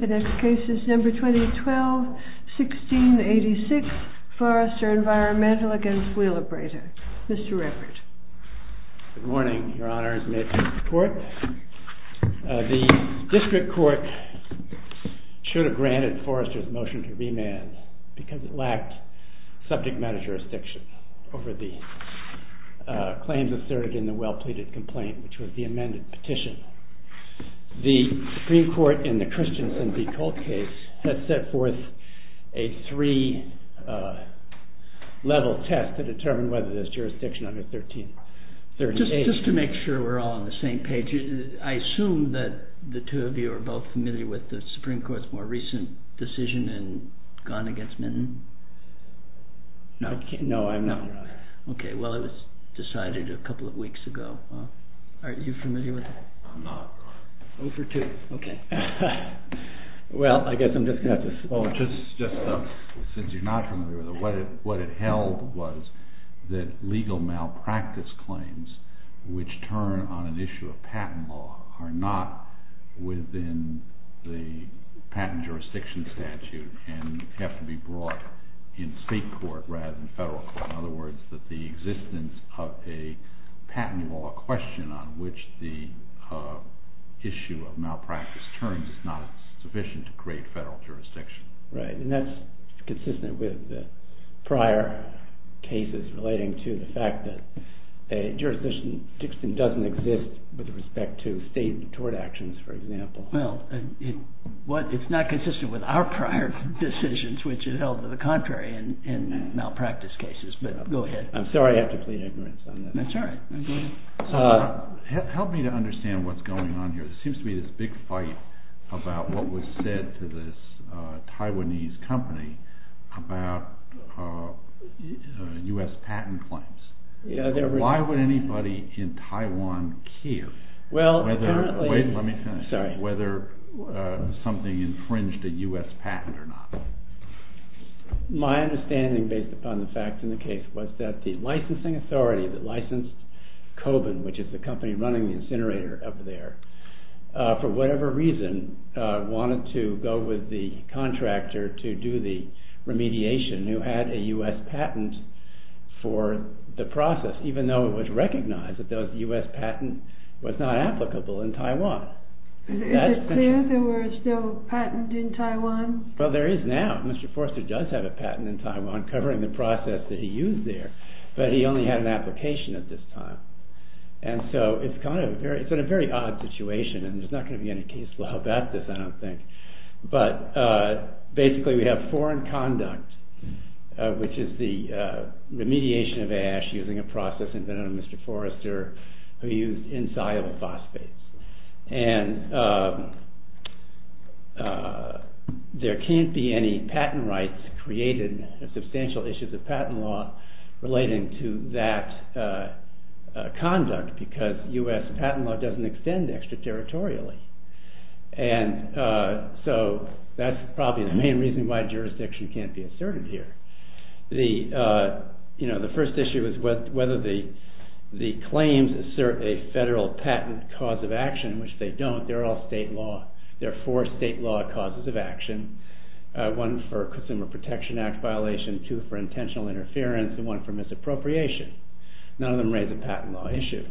2012-16-86 FORRESTER ENVIRONMENTAL v. WHEELABRATOR Good morning, Your Honors. May it please the Court? The District Court should have granted Forrester's motion to remand because it lacked subject matter jurisdiction over the claims asserted in the well-pleaded complaint, which was the amended petition. The Supreme Court in the Christensen v. Colt case has set forth a three-level test to determine whether there is jurisdiction under 1338. Just to make sure we're all on the same page, I assume that the two of you are both familiar with the Supreme Court's more recent decision in Gunn v. Minton? No, I'm not. Okay, well, it was decided a couple of weeks ago. Are you familiar with it? I'm not. Oh, for two. Okay. Well, I guess I'm just going to have to... of a patent law question on which the issue of malpractice terms is not sufficient to create federal jurisdiction. Right, and that's consistent with prior cases relating to the fact that a jurisdiction doesn't exist with respect to state tort actions, for example. Well, it's not consistent with our prior decisions, which is held to the contrary in malpractice cases, but go ahead. I'm sorry I have to plead ignorance on that. That's all right. Help me to understand what's going on here. There seems to be this big fight about what was said to this Taiwanese company about U.S. patent claims. Why would anybody in Taiwan care? Wait, let me finish. Sorry. Whether something infringed a U.S. patent or not. My understanding, based upon the facts in the case, was that the licensing authority that licensed Koban, which is the company running the incinerator up there, for whatever reason wanted to go with the contractor to do the remediation who had a U.S. patent for the process, even though it was recognized that the U.S. patent was not applicable in Taiwan. Is it clear there was no patent in Taiwan? Well, there is now. Mr. Forster does have a patent in Taiwan covering the process that he used there, but he only had an application at this time. And so it's in a very odd situation, and there's not going to be any case law about this, I don't think. But basically we have foreign conduct, which is the remediation of ash using a process invented by Mr. Forster who used insoluble phosphates. And there can't be any patent rights created, substantial issues of patent law relating to that conduct because U.S. patent law doesn't extend extraterritorially. And so that's probably the main reason why jurisdiction can't be asserted here. The first issue is whether the claims assert a federal patent cause of action, which they don't, they're all state law. There are four state law causes of action, one for Consumer Protection Act violation, two for intentional interference, and one for misappropriation. None of them raise a patent law issue.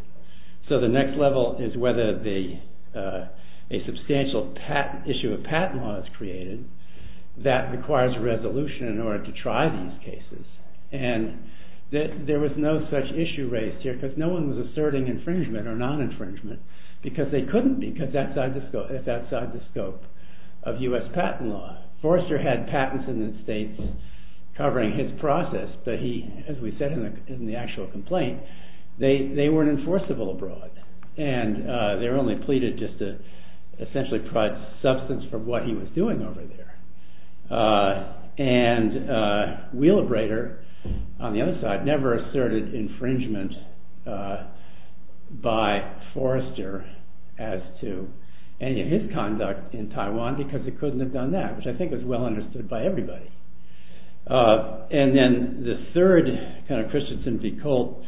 So the next level is whether a substantial issue of patent law is created that requires a resolution in order to try these cases. And there was no such issue raised here because no one was asserting infringement or non-infringement because they couldn't because that's outside the scope of U.S. patent law. Forster had patents in the states covering his process, but he, as we said in the actual complaint, they weren't enforceable abroad. And they were only pleaded just to essentially provide substance for what he was doing over there. And Wheeler Brader, on the other side, never asserted infringement by Forster as to any of his conduct in Taiwan because he couldn't have done that, which I think is well understood by everybody. And then the third kind of Christensen v. Colt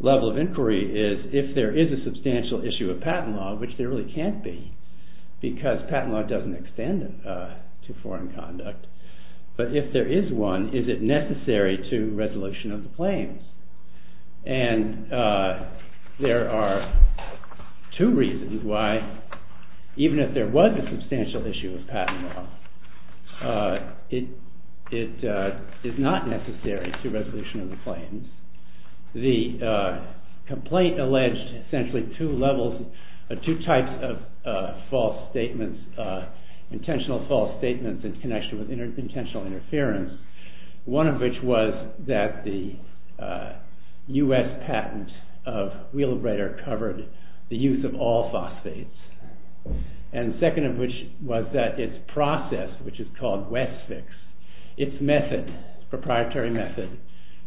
level of inquiry is if there is a substantial issue of patent law, which there really can't be because patent law doesn't extend to foreign conduct. But if there is one, is it necessary to resolution of the claims? And there are two reasons why even if there was a substantial issue of patent law, it is not necessary to resolution of the claims. The complaint alleged essentially two levels, two types of false statements, intentional false statements in connection with intentional interference. One of which was that the U.S. patent of Wheeler Brader covered the use of all phosphates. And second of which was that its process, which is called WESFIX, its method, its proprietary method,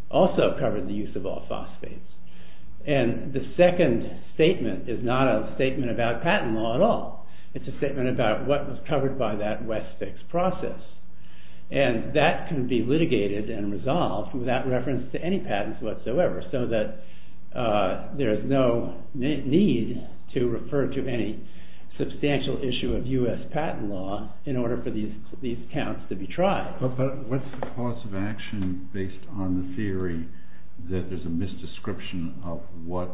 also covered the use of all phosphates. And the second statement is not a statement about patent law at all. It's a statement about what was covered by that WESFIX process. And that can be litigated and resolved without reference to any patents whatsoever so that there is no need to refer to any substantial issue of U.S. patent law in order for these accounts to be tried. But what's the cause of action based on the theory that there's a misdescription of what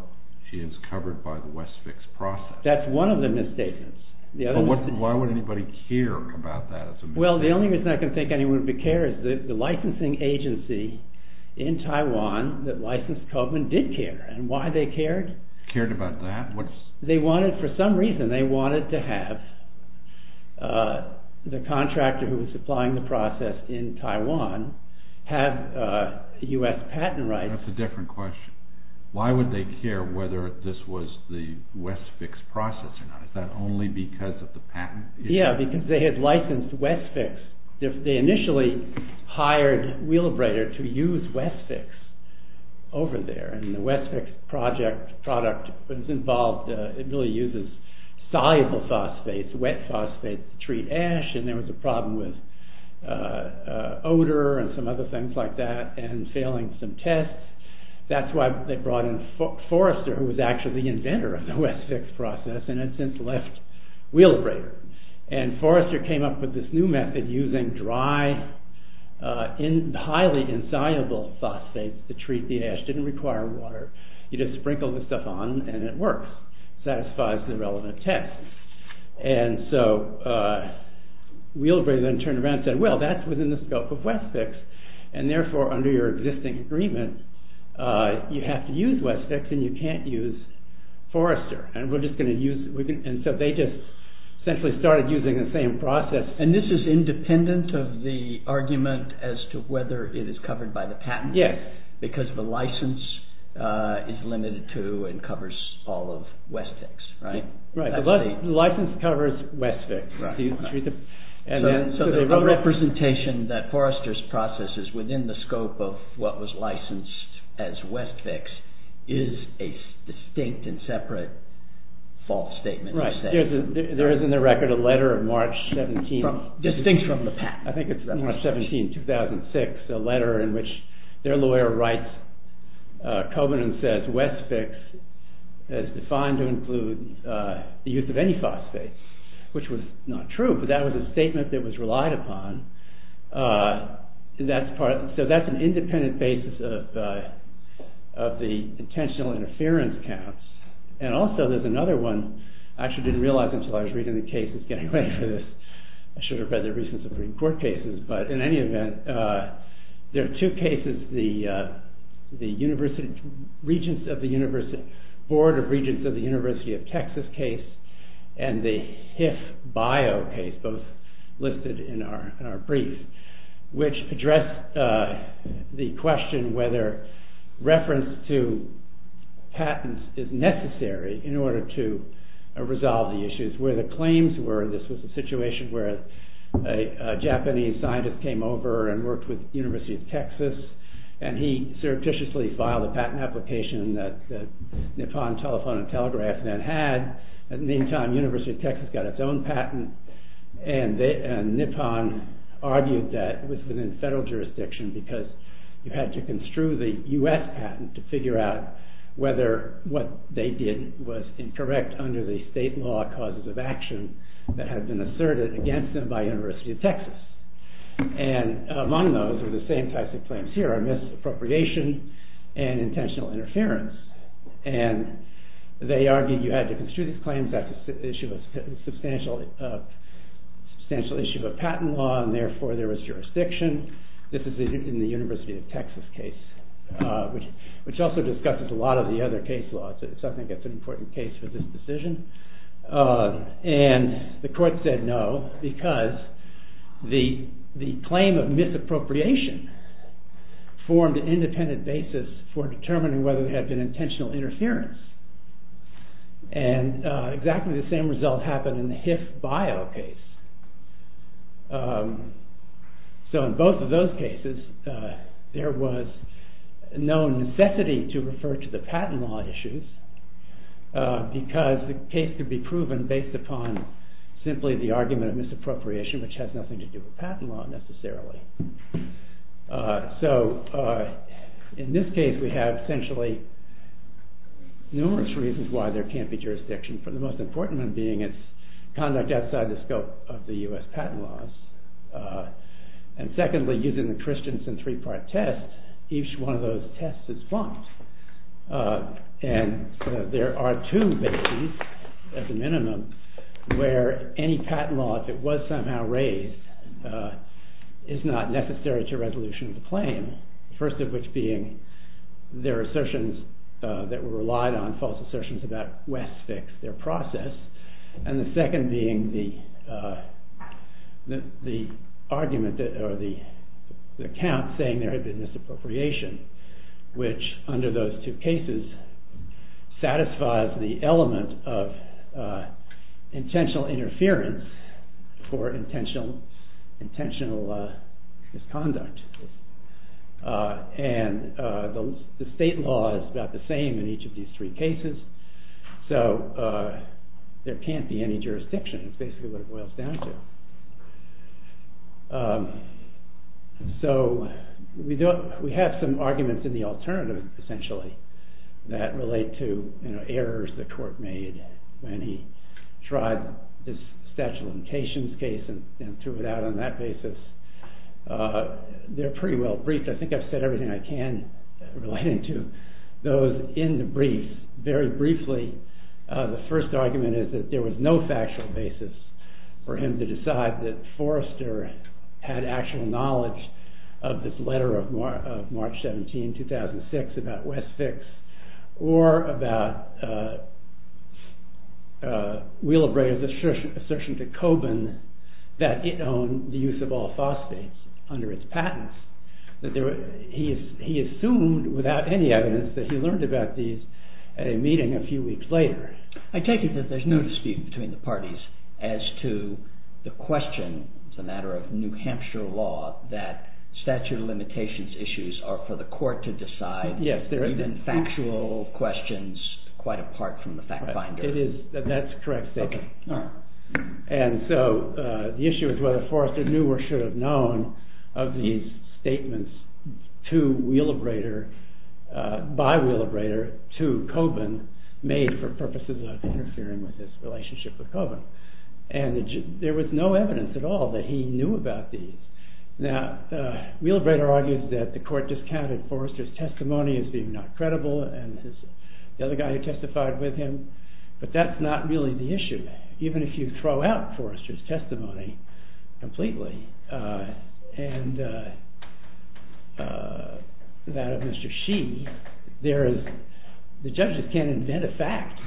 is covered by the WESFIX process? That's one of the misstatements. Why would anybody care about that as a misstatement? Well, the only reason I can think anyone would care is that the licensing agency in Taiwan that licensed Cobman did care. And why they cared? Cared about that? They wanted, for some reason, they wanted to have the contractor who was supplying the process in Taiwan have U.S. patent rights. That's a different question. Why would they care whether this was the WESFIX process or not? Is that only because of the patent? Yeah, because they had licensed WESFIX. They initially hired Wheelabrator to use WESFIX over there. And the WESFIX project product was involved, it really uses soluble phosphates, wet phosphates to treat ash. And there was a problem with odor and some other things like that and failing some tests. That's why they brought in Forrester who was actually the inventor of the WESFIX process and had since left Wheelabrator. And Forrester came up with this new method using dry, highly insoluble phosphates to treat the ash. Didn't require water. You just sprinkle the stuff on and it works. Satisfies the relevant test. And so Wheelabrator then turned around and said, well, that's within the scope of WESFIX. And therefore, under your existing agreement, you have to use WESFIX and you can't use Forrester. And so they just essentially started using the same process. And this is independent of the argument as to whether it is covered by the patent? Yes. Because the license is limited to and covers all of WESFIX, right? Right, the license covers WESFIX. So the representation that Forrester's process is within the scope of what was licensed as WESFIX is a distinct and separate false statement. Right. There is in the record a letter of March 17. Distinct from the patent. I think it's March 17, 2006. A letter in which their lawyer writes, Covenant says WESFIX is defined to include the use of any phosphate, which was not true. But that was a statement that was relied upon. So that's an independent basis of the intentional interference counts. And also there's another one. I actually didn't realize until I was reading the cases getting ready for this. I should have read the recent Supreme Court cases. But in any event, there are two cases. The Board of Regents of the University of Texas case and the HIF bio case, both listed in our brief, which address the question whether reference to patents is necessary in order to resolve the issues. Where the claims were, this was a situation where a Japanese scientist came over and worked with the University of Texas. And he surreptitiously filed a patent application that Nippon Telephone and Telegraph then had. In the meantime, the University of Texas got its own patent. And Nippon argued that it was within federal jurisdiction because you had to construe the U.S. patent to figure out whether what they did was incorrect under the state law causes of action that had been asserted against them by the University of Texas. And among those were the same types of claims here, misappropriation and intentional interference. And they argued you had to construe these claims after substantial issue of a patent law and therefore there was jurisdiction. This is in the University of Texas case, which also discusses a lot of the other case laws. So I think it's an important case for this decision. And the court said no because the claim of misappropriation formed an independent basis for determining whether there had been intentional interference. And exactly the same result happened in the HIF bio case. So in both of those cases, there was no necessity to refer to the patent law issues because the case could be proven based upon simply the argument of misappropriation, which has nothing to do with patent law necessarily. So in this case we have essentially numerous reasons why there can't be jurisdiction. The most important one being it's conduct outside the scope of the U.S. patent laws. And secondly, using the Christensen three-part test, each one of those tests is bumped. And there are two bases, at the minimum, where any patent law that was somehow raised is not necessary to resolution of the claim. The first of which being there are assertions that were relied on, false assertions about West's fix, their process. And the second being the argument or the account saying there had been misappropriation, which under those two cases satisfies the element of intentional interference for intentional misconduct. And the state law is about the same in each of these three cases. So there can't be any jurisdiction. It's basically what it boils down to. So we have some arguments in the alternative, essentially, that relate to errors the court made when he tried this statute of limitations case and threw it out on that basis. They're pretty well briefed. I think I've said everything I can relating to those in the briefs. Very briefly, the first argument is that there was no factual basis for him to decide that Forrester had actual knowledge of this letter of March 17, 2006, about West's fix, or about Wheel of Ray's assertion to Coburn that it owned the use of all phosphates under its patents. He assumed, without any evidence, that he learned about these at a meeting a few weeks later. I take it that there's no dispute between the parties as to the question, as a matter of New Hampshire law, that statute of limitations issues are for the court to decide, even factual questions quite apart from the fact finder. That's correct. And so the issue is whether Forrester knew or should have known of these statements to Wheel of Rader, by Wheel of Rader, to Coburn, made for purposes of interfering with his relationship with Coburn. And there was no evidence at all that he knew about these. Now, Wheel of Rader argues that the court discounted Forrester's testimony as being not credible, and the other guy who testified with him, but that's not really the issue. Even if you throw out Forrester's testimony completely, and that of Mr. Shee, the judges can't invent a fact.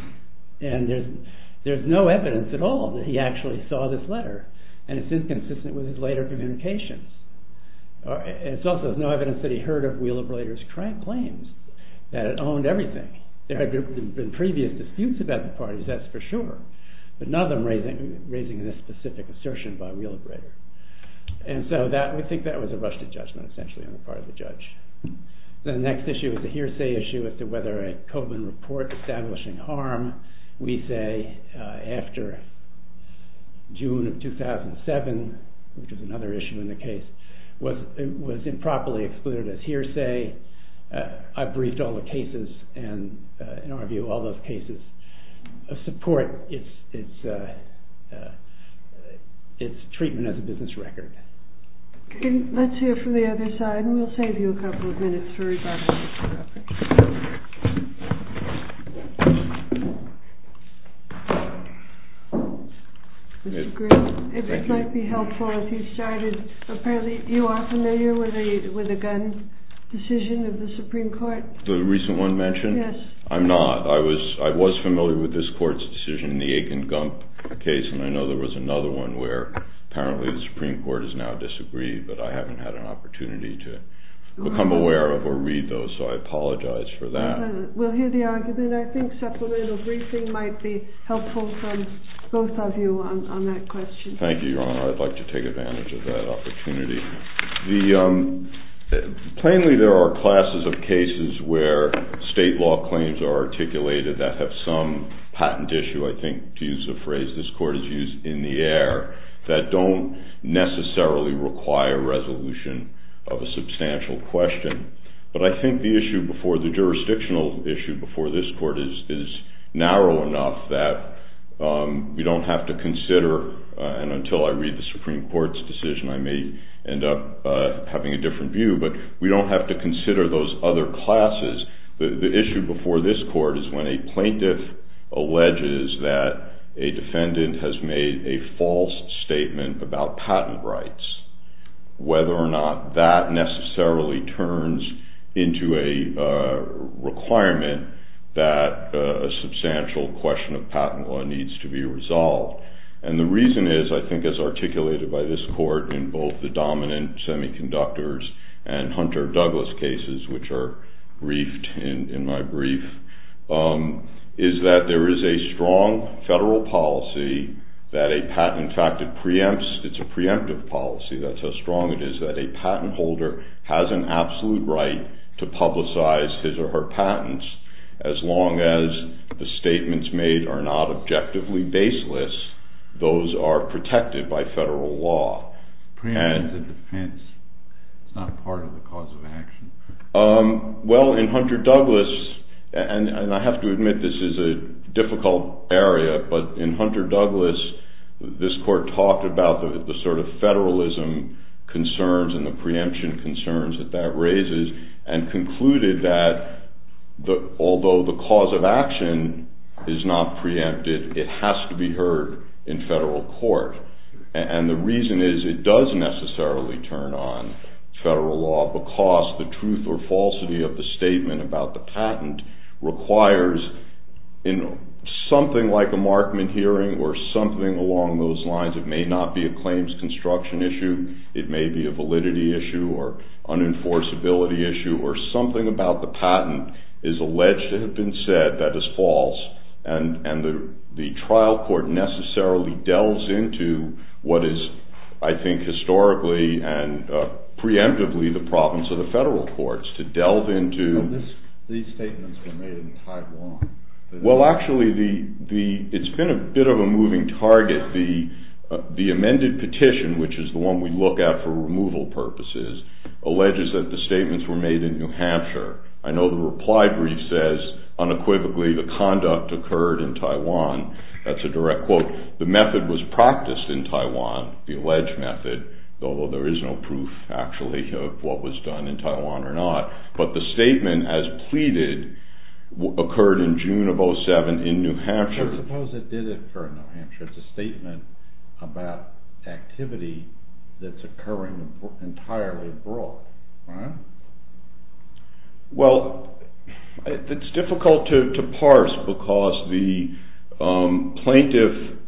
And there's no evidence at all that he actually saw this letter, and it's inconsistent with his later communications. It's also no evidence that he heard of Wheel of Rader's crank claims, that it owned everything. There had been previous disputes about the parties, that's for sure, but none of them raising this specific assertion by Wheel of Rader. And so we think that was a rushed judgment, essentially, on the part of the judge. The next issue is a hearsay issue as to whether a Coburn report establishing harm, we say, after June of 2007, which is another issue in the case, was improperly excluded as hearsay. I've briefed all the cases, and in our view, all those cases support its treatment as a business record. Let's hear from the other side, and we'll save you a couple of minutes for rebuttal. Mr. Green, if it might be helpful if you started, apparently you are familiar with the Gunn decision of the Supreme Court? The recent one mentioned? Yes. I'm not. I was familiar with this court's decision in the Aiken-Gunn case, and I know there was another one where apparently the Supreme Court has now disagreed, but I haven't had an opportunity to become aware of or read those, so I apologize for that. We'll hear the argument. I think supplemental briefing might be helpful from both of you on that question. Thank you, Your Honor. I'd like to take advantage of that opportunity. Plainly, there are classes of cases where state law claims are articulated that have some patent issue, I think, to use a phrase this Court has used, in the air, that don't necessarily require resolution of a substantial question. But I think the issue before the jurisdictional issue before this Court is narrow enough that we don't have to consider, and until I read the Supreme Court's decision, I may end up having a different view, but we don't have to consider those other classes. The issue before this Court is when a plaintiff alleges that a defendant has made a false statement about patent rights, whether or not that necessarily turns into a requirement that a substantial question of patent law needs to be resolved. And the reason is, I think as articulated by this Court in both the dominant semiconductors and Hunter-Douglas cases, which are briefed in my brief, is that there is a strong federal policy that a patent, in fact, it preempts, it's a preemptive policy, that's how strong it is, that a patent holder has an absolute right to publicize his or her patents as long as the statements made are not objectively baseless, those are protected by federal law. It preempts a defense, it's not part of the cause of action. And the reason is it does necessarily turn on federal law because the truth or falsity of the statement about the patent requires, in something like a Markman hearing or something along those lines, it may not be a claims construction issue, it may be a validity issue or an enforceability issue, or something about the patent is alleged to have been said that is false. And the trial court necessarily delves into what is, I think, historically and preemptively the province of the federal courts to delve into… These statements were made in Taiwan. Well, actually, it's been a bit of a moving target. The amended petition, which is the one we look at for removal purposes, alleges that the statements were made in New Hampshire. I know the reply brief says, unequivocally, the conduct occurred in Taiwan. That's a direct quote. The method was practiced in Taiwan, the alleged method, although there is no proof, actually, of what was done in Taiwan or not. But the statement as pleaded occurred in June of 2007 in New Hampshire. I suppose it did occur in New Hampshire. It's a statement about activity that's occurring entirely abroad, right? Well, it's difficult to parse because the plaintiff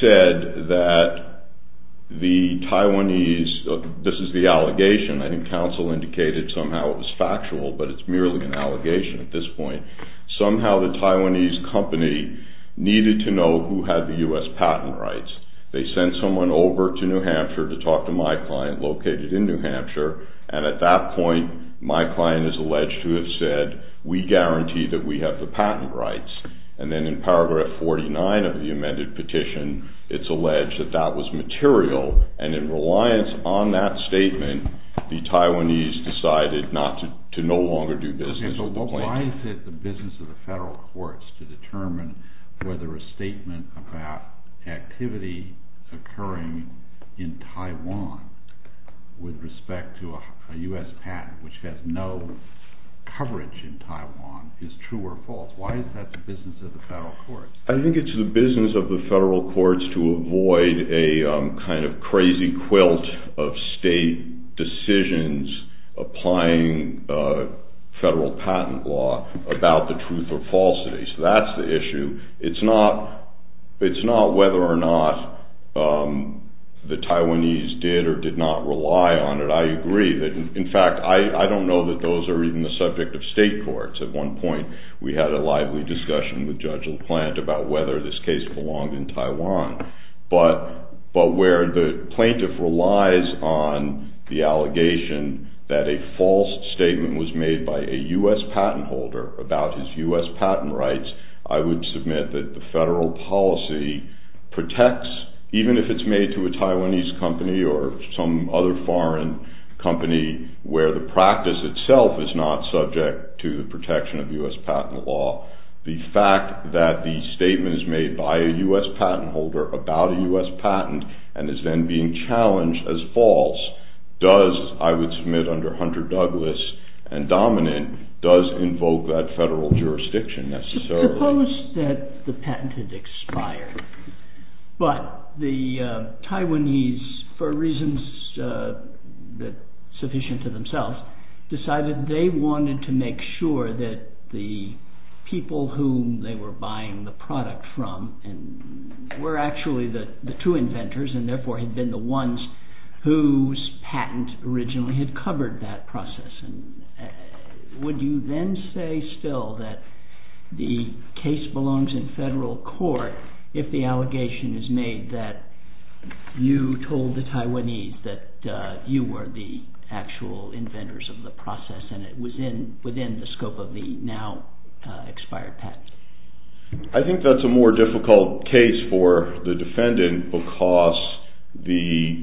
said that the Taiwanese… This is the allegation. I think counsel indicated somehow it was factual, but it's merely an allegation at this point. Somehow the Taiwanese company needed to know who had the U.S. patent rights. They sent someone over to New Hampshire to talk to my client located in New Hampshire, and at that point, my client is alleged to have said, we guarantee that we have the patent rights. And then in paragraph 49 of the amended petition, it's alleged that that was material, and in reliance on that statement, the Taiwanese decided to no longer do business with the plaintiff. Why is it the business of the federal courts to determine whether a statement about activity occurring in Taiwan with respect to a U.S. patent which has no coverage in Taiwan is true or false? Why is that the business of the federal courts? I think it's the business of the federal courts to avoid a kind of crazy quilt of state decisions applying federal patent law about the truth or falsity. So that's the issue. It's not whether or not the Taiwanese did or did not rely on it. I agree that, in fact, I don't know that those are even the subject of state courts. At one point, we had a lively discussion with Judge LaPlante about whether this case belonged in Taiwan. But where the plaintiff relies on the allegation that a false statement was made by a U.S. patent holder about his U.S. patent rights, I would submit that the federal policy protects, even if it's made to a Taiwanese company or some other foreign company, where the practice itself is not subject to the protection of U.S. patent law. The fact that the statement is made by a U.S. patent holder about a U.S. patent and is then being challenged as false does, I would submit under Hunter Douglas and Dominant, does invoke that federal jurisdiction necessarily. Suppose that the patent had expired, but the Taiwanese, for reasons sufficient to themselves, decided they wanted to make sure that the people whom they were buying the product from were actually the two inventors and therefore had been the ones whose patent originally had covered that process. Would you then say still that the case belongs in federal court if the allegation is made that you told the Taiwanese that you were the actual inventors of the process and it was within the scope of the now expired patent? I think that's a more difficult case for the defendant because the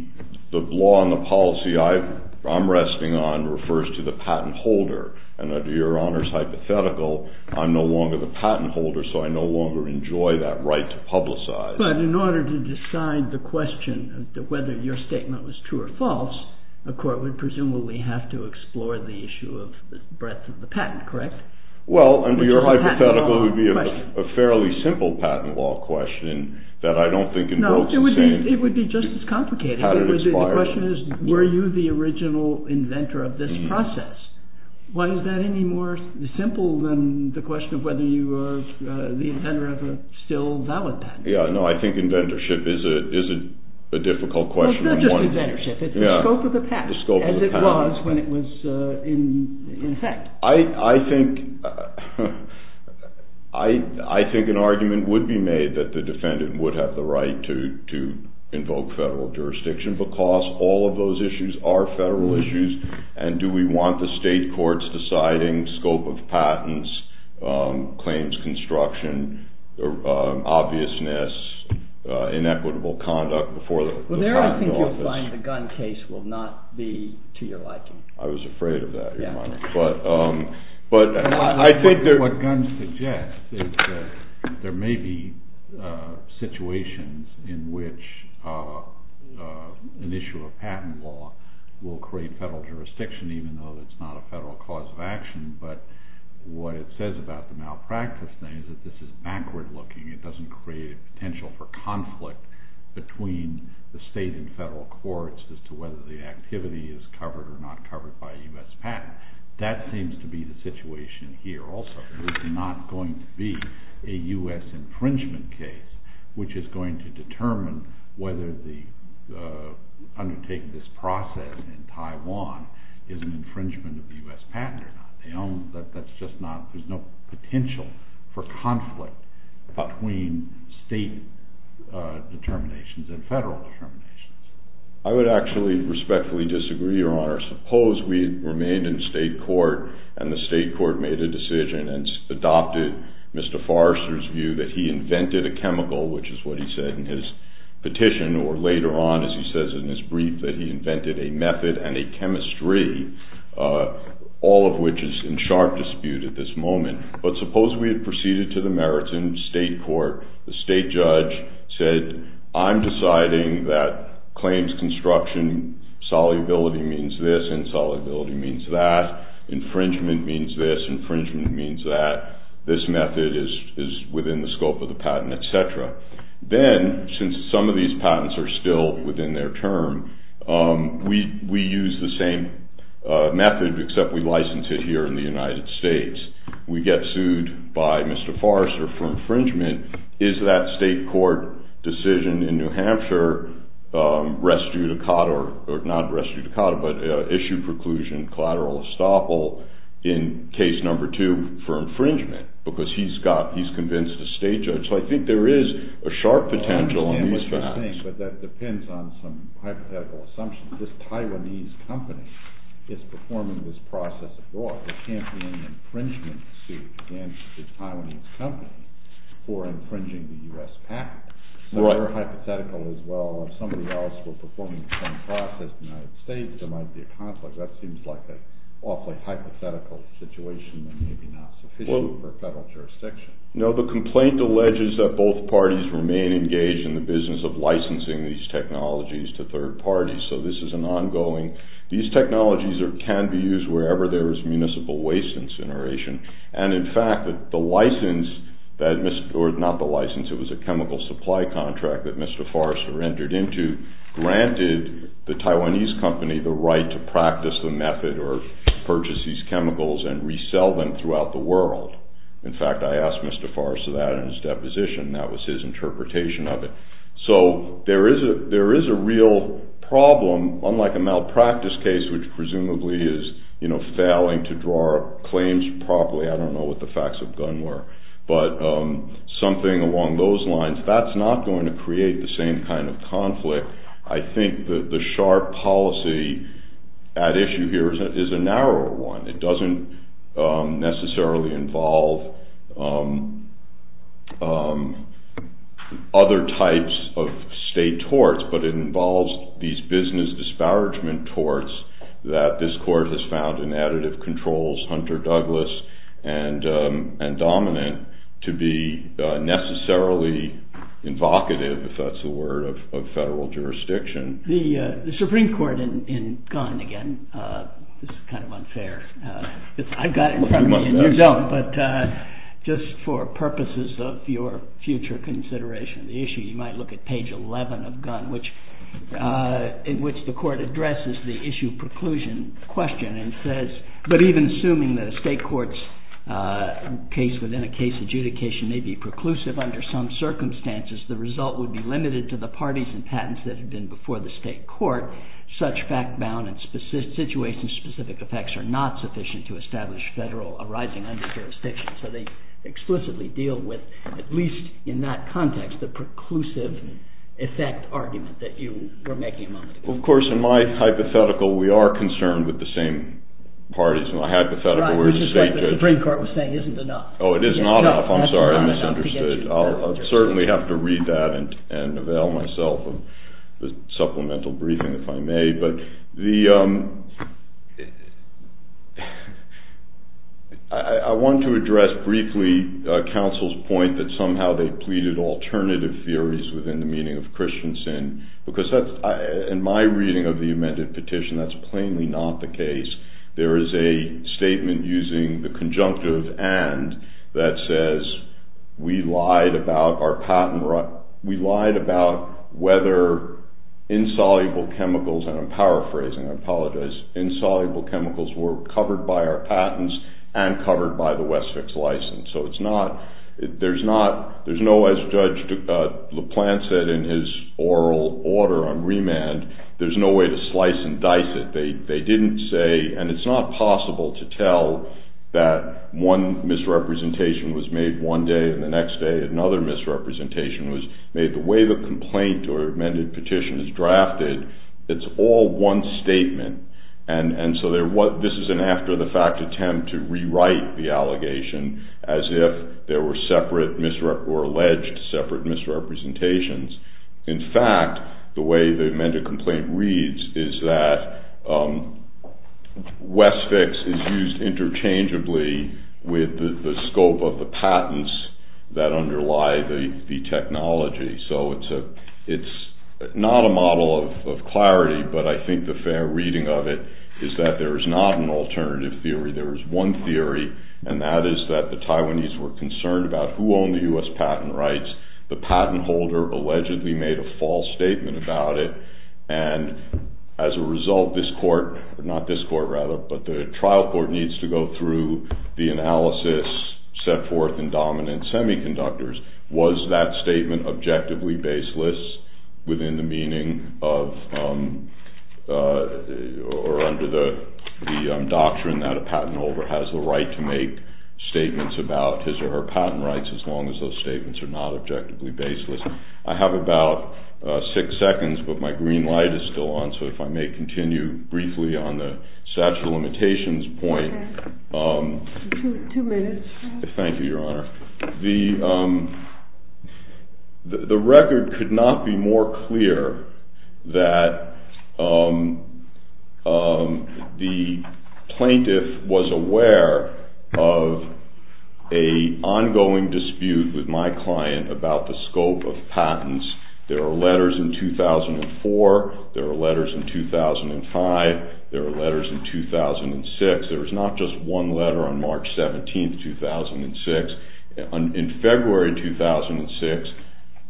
law and the policy I'm resting on refers to the patent holder. And under your Honor's hypothetical, I'm no longer the patent holder, so I no longer enjoy that right to publicize. But in order to decide the question of whether your statement was true or false, a court would presumably have to explore the issue of the breadth of the patent, correct? Well, under your hypothetical, it would be a fairly simple patent law question that I don't think invokes the same... No, it would be just as complicated. The question is, were you the original inventor of this process? Why is that any more simple than the question of whether you were the inventor of a still valid patent? Yeah, no, I think inventorship is a difficult question. It's not just inventorship, it's the scope of the patent as it was when it was in effect. I think an argument would be made that the defendant would have the right to invoke federal jurisdiction because all of those issues are federal issues, and do we want the state courts deciding scope of patents, claims construction, obviousness, inequitable conduct before the patent office? Well, there I think you'll find the gun case will not be to your liking. I was afraid of that, but... What guns suggest is that there may be situations in which an issue of patent law will create federal jurisdiction even though it's not a federal cause of action, but what it says about the malpractice thing is that this is backward looking. It doesn't create a potential for conflict between the state and federal courts as to whether the activity is covered or not covered by a U.S. patent. That seems to be the situation here also. There's not going to be a U.S. infringement case which is going to determine whether undertaking this process in Taiwan is an infringement of the U.S. patent or not. There's no potential for conflict between state determinations and federal determinations. I would actually respectfully disagree, Your Honor. Suppose we remained in state court and the state court made a decision and adopted Mr. Forrester's view that he invented a chemical, which is what he said in his petition, or later on, as he says in his brief, that he invented a method and a chemistry, all of which is in sharp dispute at this moment. But suppose we had proceeded to the merits in state court. The state judge said, I'm deciding that claims construction, solubility means this, insolubility means that, infringement means this, infringement means that. This method is within the scope of the patent, etc. Then, since some of these patents are still within their term, we use the same method except we license it here in the United States. We get sued by Mr. Forrester for infringement. Is that state court decision in New Hampshire res judicata, or not res judicata, but issue preclusion collateral estoppel in case number two for infringement? Because he's convinced a state judge. So I think there is a sharp potential in these facts. I understand what you're saying, but that depends on some hypothetical assumptions. This Taiwanese company is performing this process abroad. There can't be any infringement suit against this Taiwanese company for infringing the U.S. patent. Some are hypothetical as well. If somebody else were performing the same process in the United States, there might be a conflict. That seems like an awfully hypothetical situation that may be not sufficient for federal jurisdiction. No, the complaint alleges that both parties remain engaged in the business of licensing these technologies to third parties. So this is an ongoing. These technologies can be used wherever there is municipal waste incineration. And in fact, the license, or not the license, it was a chemical supply contract that Mr. Forrester entered into, granted the Taiwanese company the right to practice the method or purchase these chemicals and resell them throughout the world. In fact, I asked Mr. Forrester that in his deposition. That was his interpretation of it. So there is a real problem, unlike a malpractice case, which presumably is failing to draw up claims properly. I don't know what the facts of gun were. But something along those lines, that's not going to create the same kind of conflict. I think that the sharp policy at issue here is a narrower one. It doesn't necessarily involve other types of state torts, but it involves these business disparagement torts that this court has found in additive controls, Hunter-Douglas and Dominant, to be necessarily invocative, if that's the word, of federal jurisdiction. The Supreme Court in Gun, again, this is kind of unfair. I've got it in front of me and you don't, but just for purposes of your future consideration of the issue, you might look at page 11 of Gun, in which the court addresses the issue preclusion question and says, but even assuming that a state court's case within a case adjudication may be preclusive under some circumstances, the result would be limited to the parties and patents that have been before the state court, such fact-bound and situation-specific effects are not sufficient to establish federal arising under jurisdiction. So they explicitly deal with, at least in that context, the preclusive effect argument that you were making a moment ago. Well, of course, in my hypothetical, we are concerned with the same parties. Right, which is what the Supreme Court was saying isn't enough. Oh, it is not enough. I'm sorry, I misunderstood. I'll certainly have to read that and avail myself of the supplemental briefing, if I may. I want to address briefly counsel's point that somehow they pleaded alternative theories within the meaning of Christian sin, because in my reading of the amended petition, that's plainly not the case. There is a statement using the conjunctive and that says we lied about whether insoluble chemicals, and I'm paraphrasing, I apologize, insoluble chemicals were covered by our patents and covered by the Westfix license. So it's not, there's no, as Judge LaPlante said in his oral order on remand, there's no way to slice and dice it. They didn't say, and it's not possible to tell that one misrepresentation was made one day, and the next day another misrepresentation was made. The way the complaint or amended petition is drafted, it's all one statement. And so this is an after-the-fact attempt to rewrite the allegation as if there were separate misrep, or alleged separate misrepresentations. In fact, the way the amended complaint reads is that Westfix is used interchangeably with the scope of the patents that underlie the technology. So it's not a model of clarity, but I think the fair reading of it is that there is not an alternative theory. There is one theory, and that is that the Taiwanese were concerned about who owned the U.S. patent rights. The patent holder allegedly made a false statement about it, and as a result, this court, or not this court rather, but the trial court needs to go through the analysis set forth in dominant semiconductors. Was that statement objectively baseless within the meaning of, or under the doctrine that a patent holder has the right to make statements about his or her patent rights as long as those statements are not objectively baseless? I have about six seconds, but my green light is still on, so if I may continue briefly on the statute of limitations point. Okay. Two minutes. Thank you, Your Honor. The record could not be more clear that the plaintiff was aware of an ongoing dispute with my client about the scope of patents. There are letters in 2004, there are letters in 2005, there are letters in 2006. There was not just one letter on March 17, 2006. In February 2006,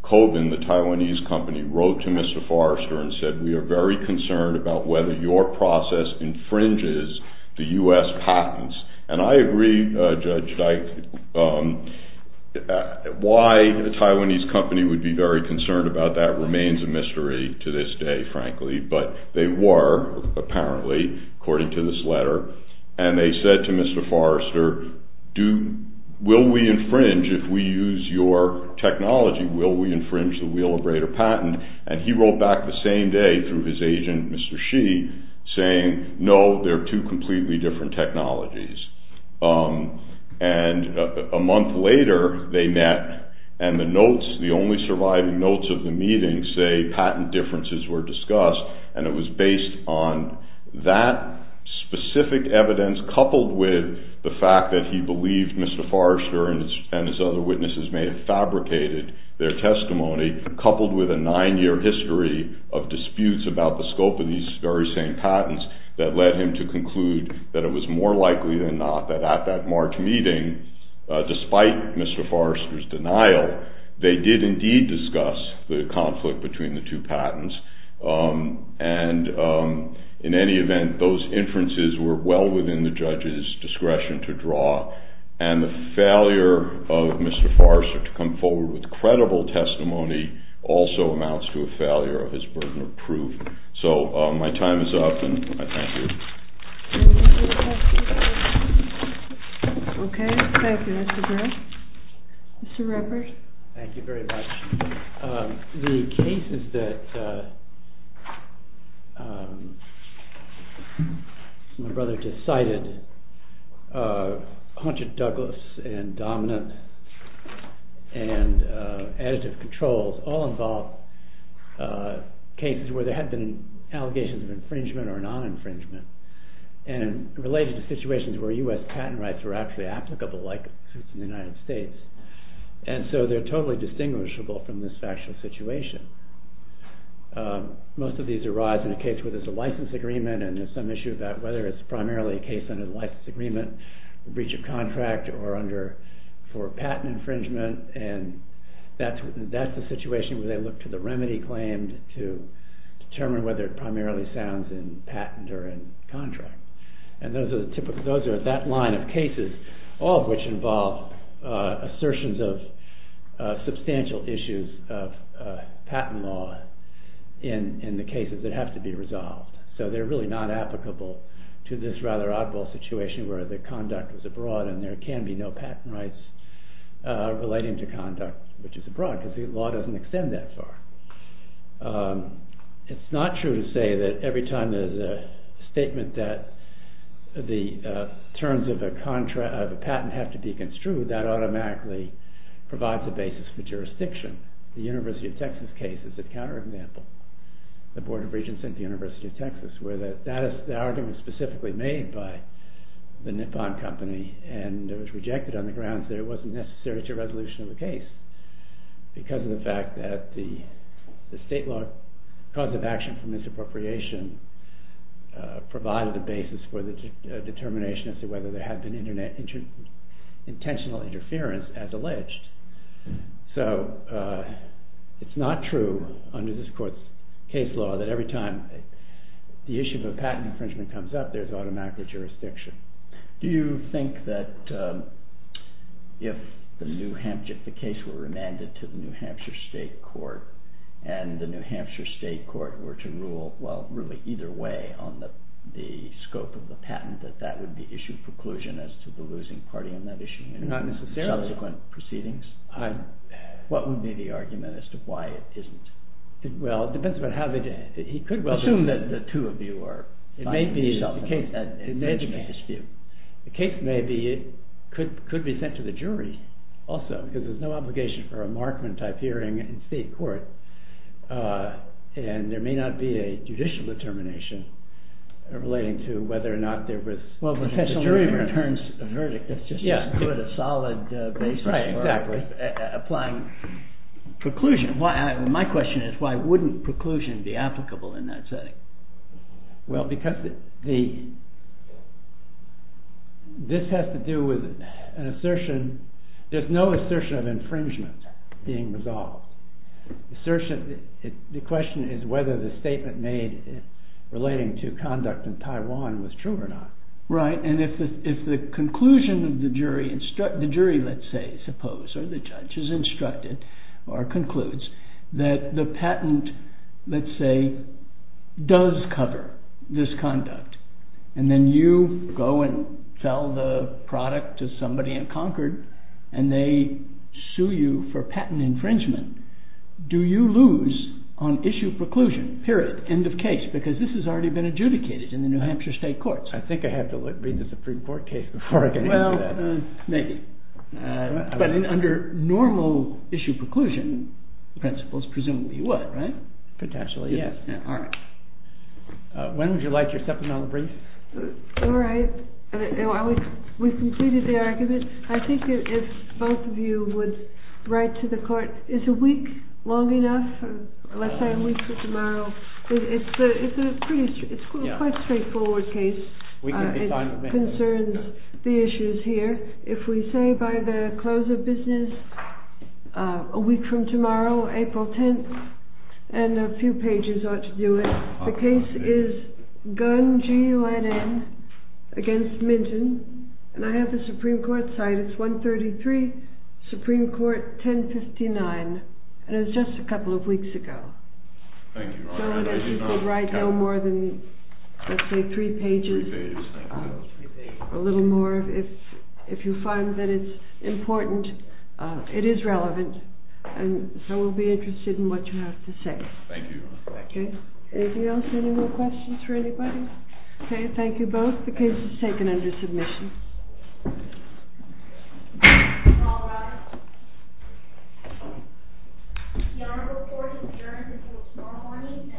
Kobin, the Taiwanese company, wrote to Mr. Forrester and said, we are very concerned about whether your process infringes the U.S. patents, and I agree, Judge Dyke, why the Taiwanese company would be very concerned about that remains a mystery to this day, frankly, but they were, apparently, according to this letter, and they said to Mr. Forrester, will we infringe if we use your technology? Will we infringe the wheel of greater patent? And he wrote back the same day through his agent, Mr. Shi, saying, no, they're two completely different technologies. And a month later, they met, and the notes, the only surviving notes of the meeting, say patent differences were discussed, and it was based on that specific evidence coupled with the fact that he believed Mr. Forrester and his other witnesses may have fabricated their testimony, coupled with a nine-year history of disputes about the scope of these very same patents that led him to conclude that it was more likely than not that at that March meeting, despite Mr. Forrester's denial, they did indeed discuss the conflict between the two patents, and in any event, those inferences were well within the judge's discretion to draw, and the failure of Mr. Forrester to come forward with credible testimony also amounts to a failure of his burden of proof. So my time is up, and I thank you. Okay, thank you. Mr. Burrow? Mr. Ruppert? Thank you very much. The cases that my brother just cited, Hunter Douglas and Dominant and Additive Controls, all involve cases where there have been allegations of infringement or non-infringement, and related to situations where U.S. patent rights were actually applicable like suits in the United States, and so they're totally distinguishable from this factual situation. Most of these arise in a case where there's a license agreement and there's some issue about whether it's primarily a case under the license agreement, breach of contract, or for patent infringement, and that's the situation where they look to the remedy claimed to determine whether it primarily sounds in patent or in contract. And those are that line of cases, all of which involve assertions of substantial issues of patent law in the cases that have to be resolved. So they're really not applicable to this rather oddball situation where the conduct is abroad and there can be no patent rights relating to conduct which is abroad because the law doesn't extend that far. It's not true to say that every time there's a statement that the terms of a patent have to be construed, that automatically provides a basis for jurisdiction. The University of Texas case is a counterexample. The Board of Regents at the University of Texas where the argument was specifically made by the Nippon Company and it was rejected on the grounds that it wasn't necessary to a resolution of the case because of the fact that the state law cause of action for misappropriation provided the basis for the determination as to whether there had been intentional interference as alleged. So it's not true under this court's case law that every time the issue of a patent infringement comes up there's automatically jurisdiction. Do you think that if the case were remanded to the New Hampshire State Court and the New Hampshire State Court were to rule, well, really either way on the scope of the patent that that would be issued preclusion as to the losing party on that issue? Not necessarily. Subsequent proceedings? What would be the argument as to why it isn't? Well, it depends on how they did it. Assume that the two of you are... It may be that the case may be, it could be sent to the jury also because there's no obligation for a Markman-type hearing in state court and there may not be a judicial determination relating to whether or not there was... Well, if the jury returns a verdict, that's just as good a solid basis for applying preclusion. My question is why wouldn't preclusion be applicable in that setting? Well, because this has to do with an assertion... There's no assertion of infringement being resolved. The question is whether the statement made relating to conduct in Taiwan was true or not. Right, and if the conclusion of the jury... The jury, let's say, suppose, or the judge has instructed or concludes that the patent, let's say, does cover this conduct and then you go and sell the product to somebody in Concord and they sue you for patent infringement, do you lose on issue of preclusion, period, end of case? Because this has already been adjudicated in the New Hampshire state courts. I think I have to read the Supreme Court case before I can answer that. Well, maybe. But under normal issue preclusion principles, presumably you would, right? Potentially, yes. When would you like your supplemental brief? All right. We've completed the argument. I think if both of you would write to the court... Is a week long enough? Let's say a week for tomorrow. It's quite a straightforward case. It concerns the issues here. If we say by the close of business a week from tomorrow, April 10th, and a few pages ought to do it. The case is Gunn, G-U-N-N, against Minton. And I have the Supreme Court site. It's 133 Supreme Court 1059. And it was just a couple of weeks ago. Thank you, Your Honor. So that you could write no more than, let's say, three pages. A little more. If you find that it's important, it is relevant. And so we'll be interested in what you have to say. Thank you, Your Honor. Okay. Anything else? Any more questions for anybody? Okay. Thank you both. The case is taken under submission. All right. Your Honor, the court adjourns until tomorrow morning at 12 o'clock.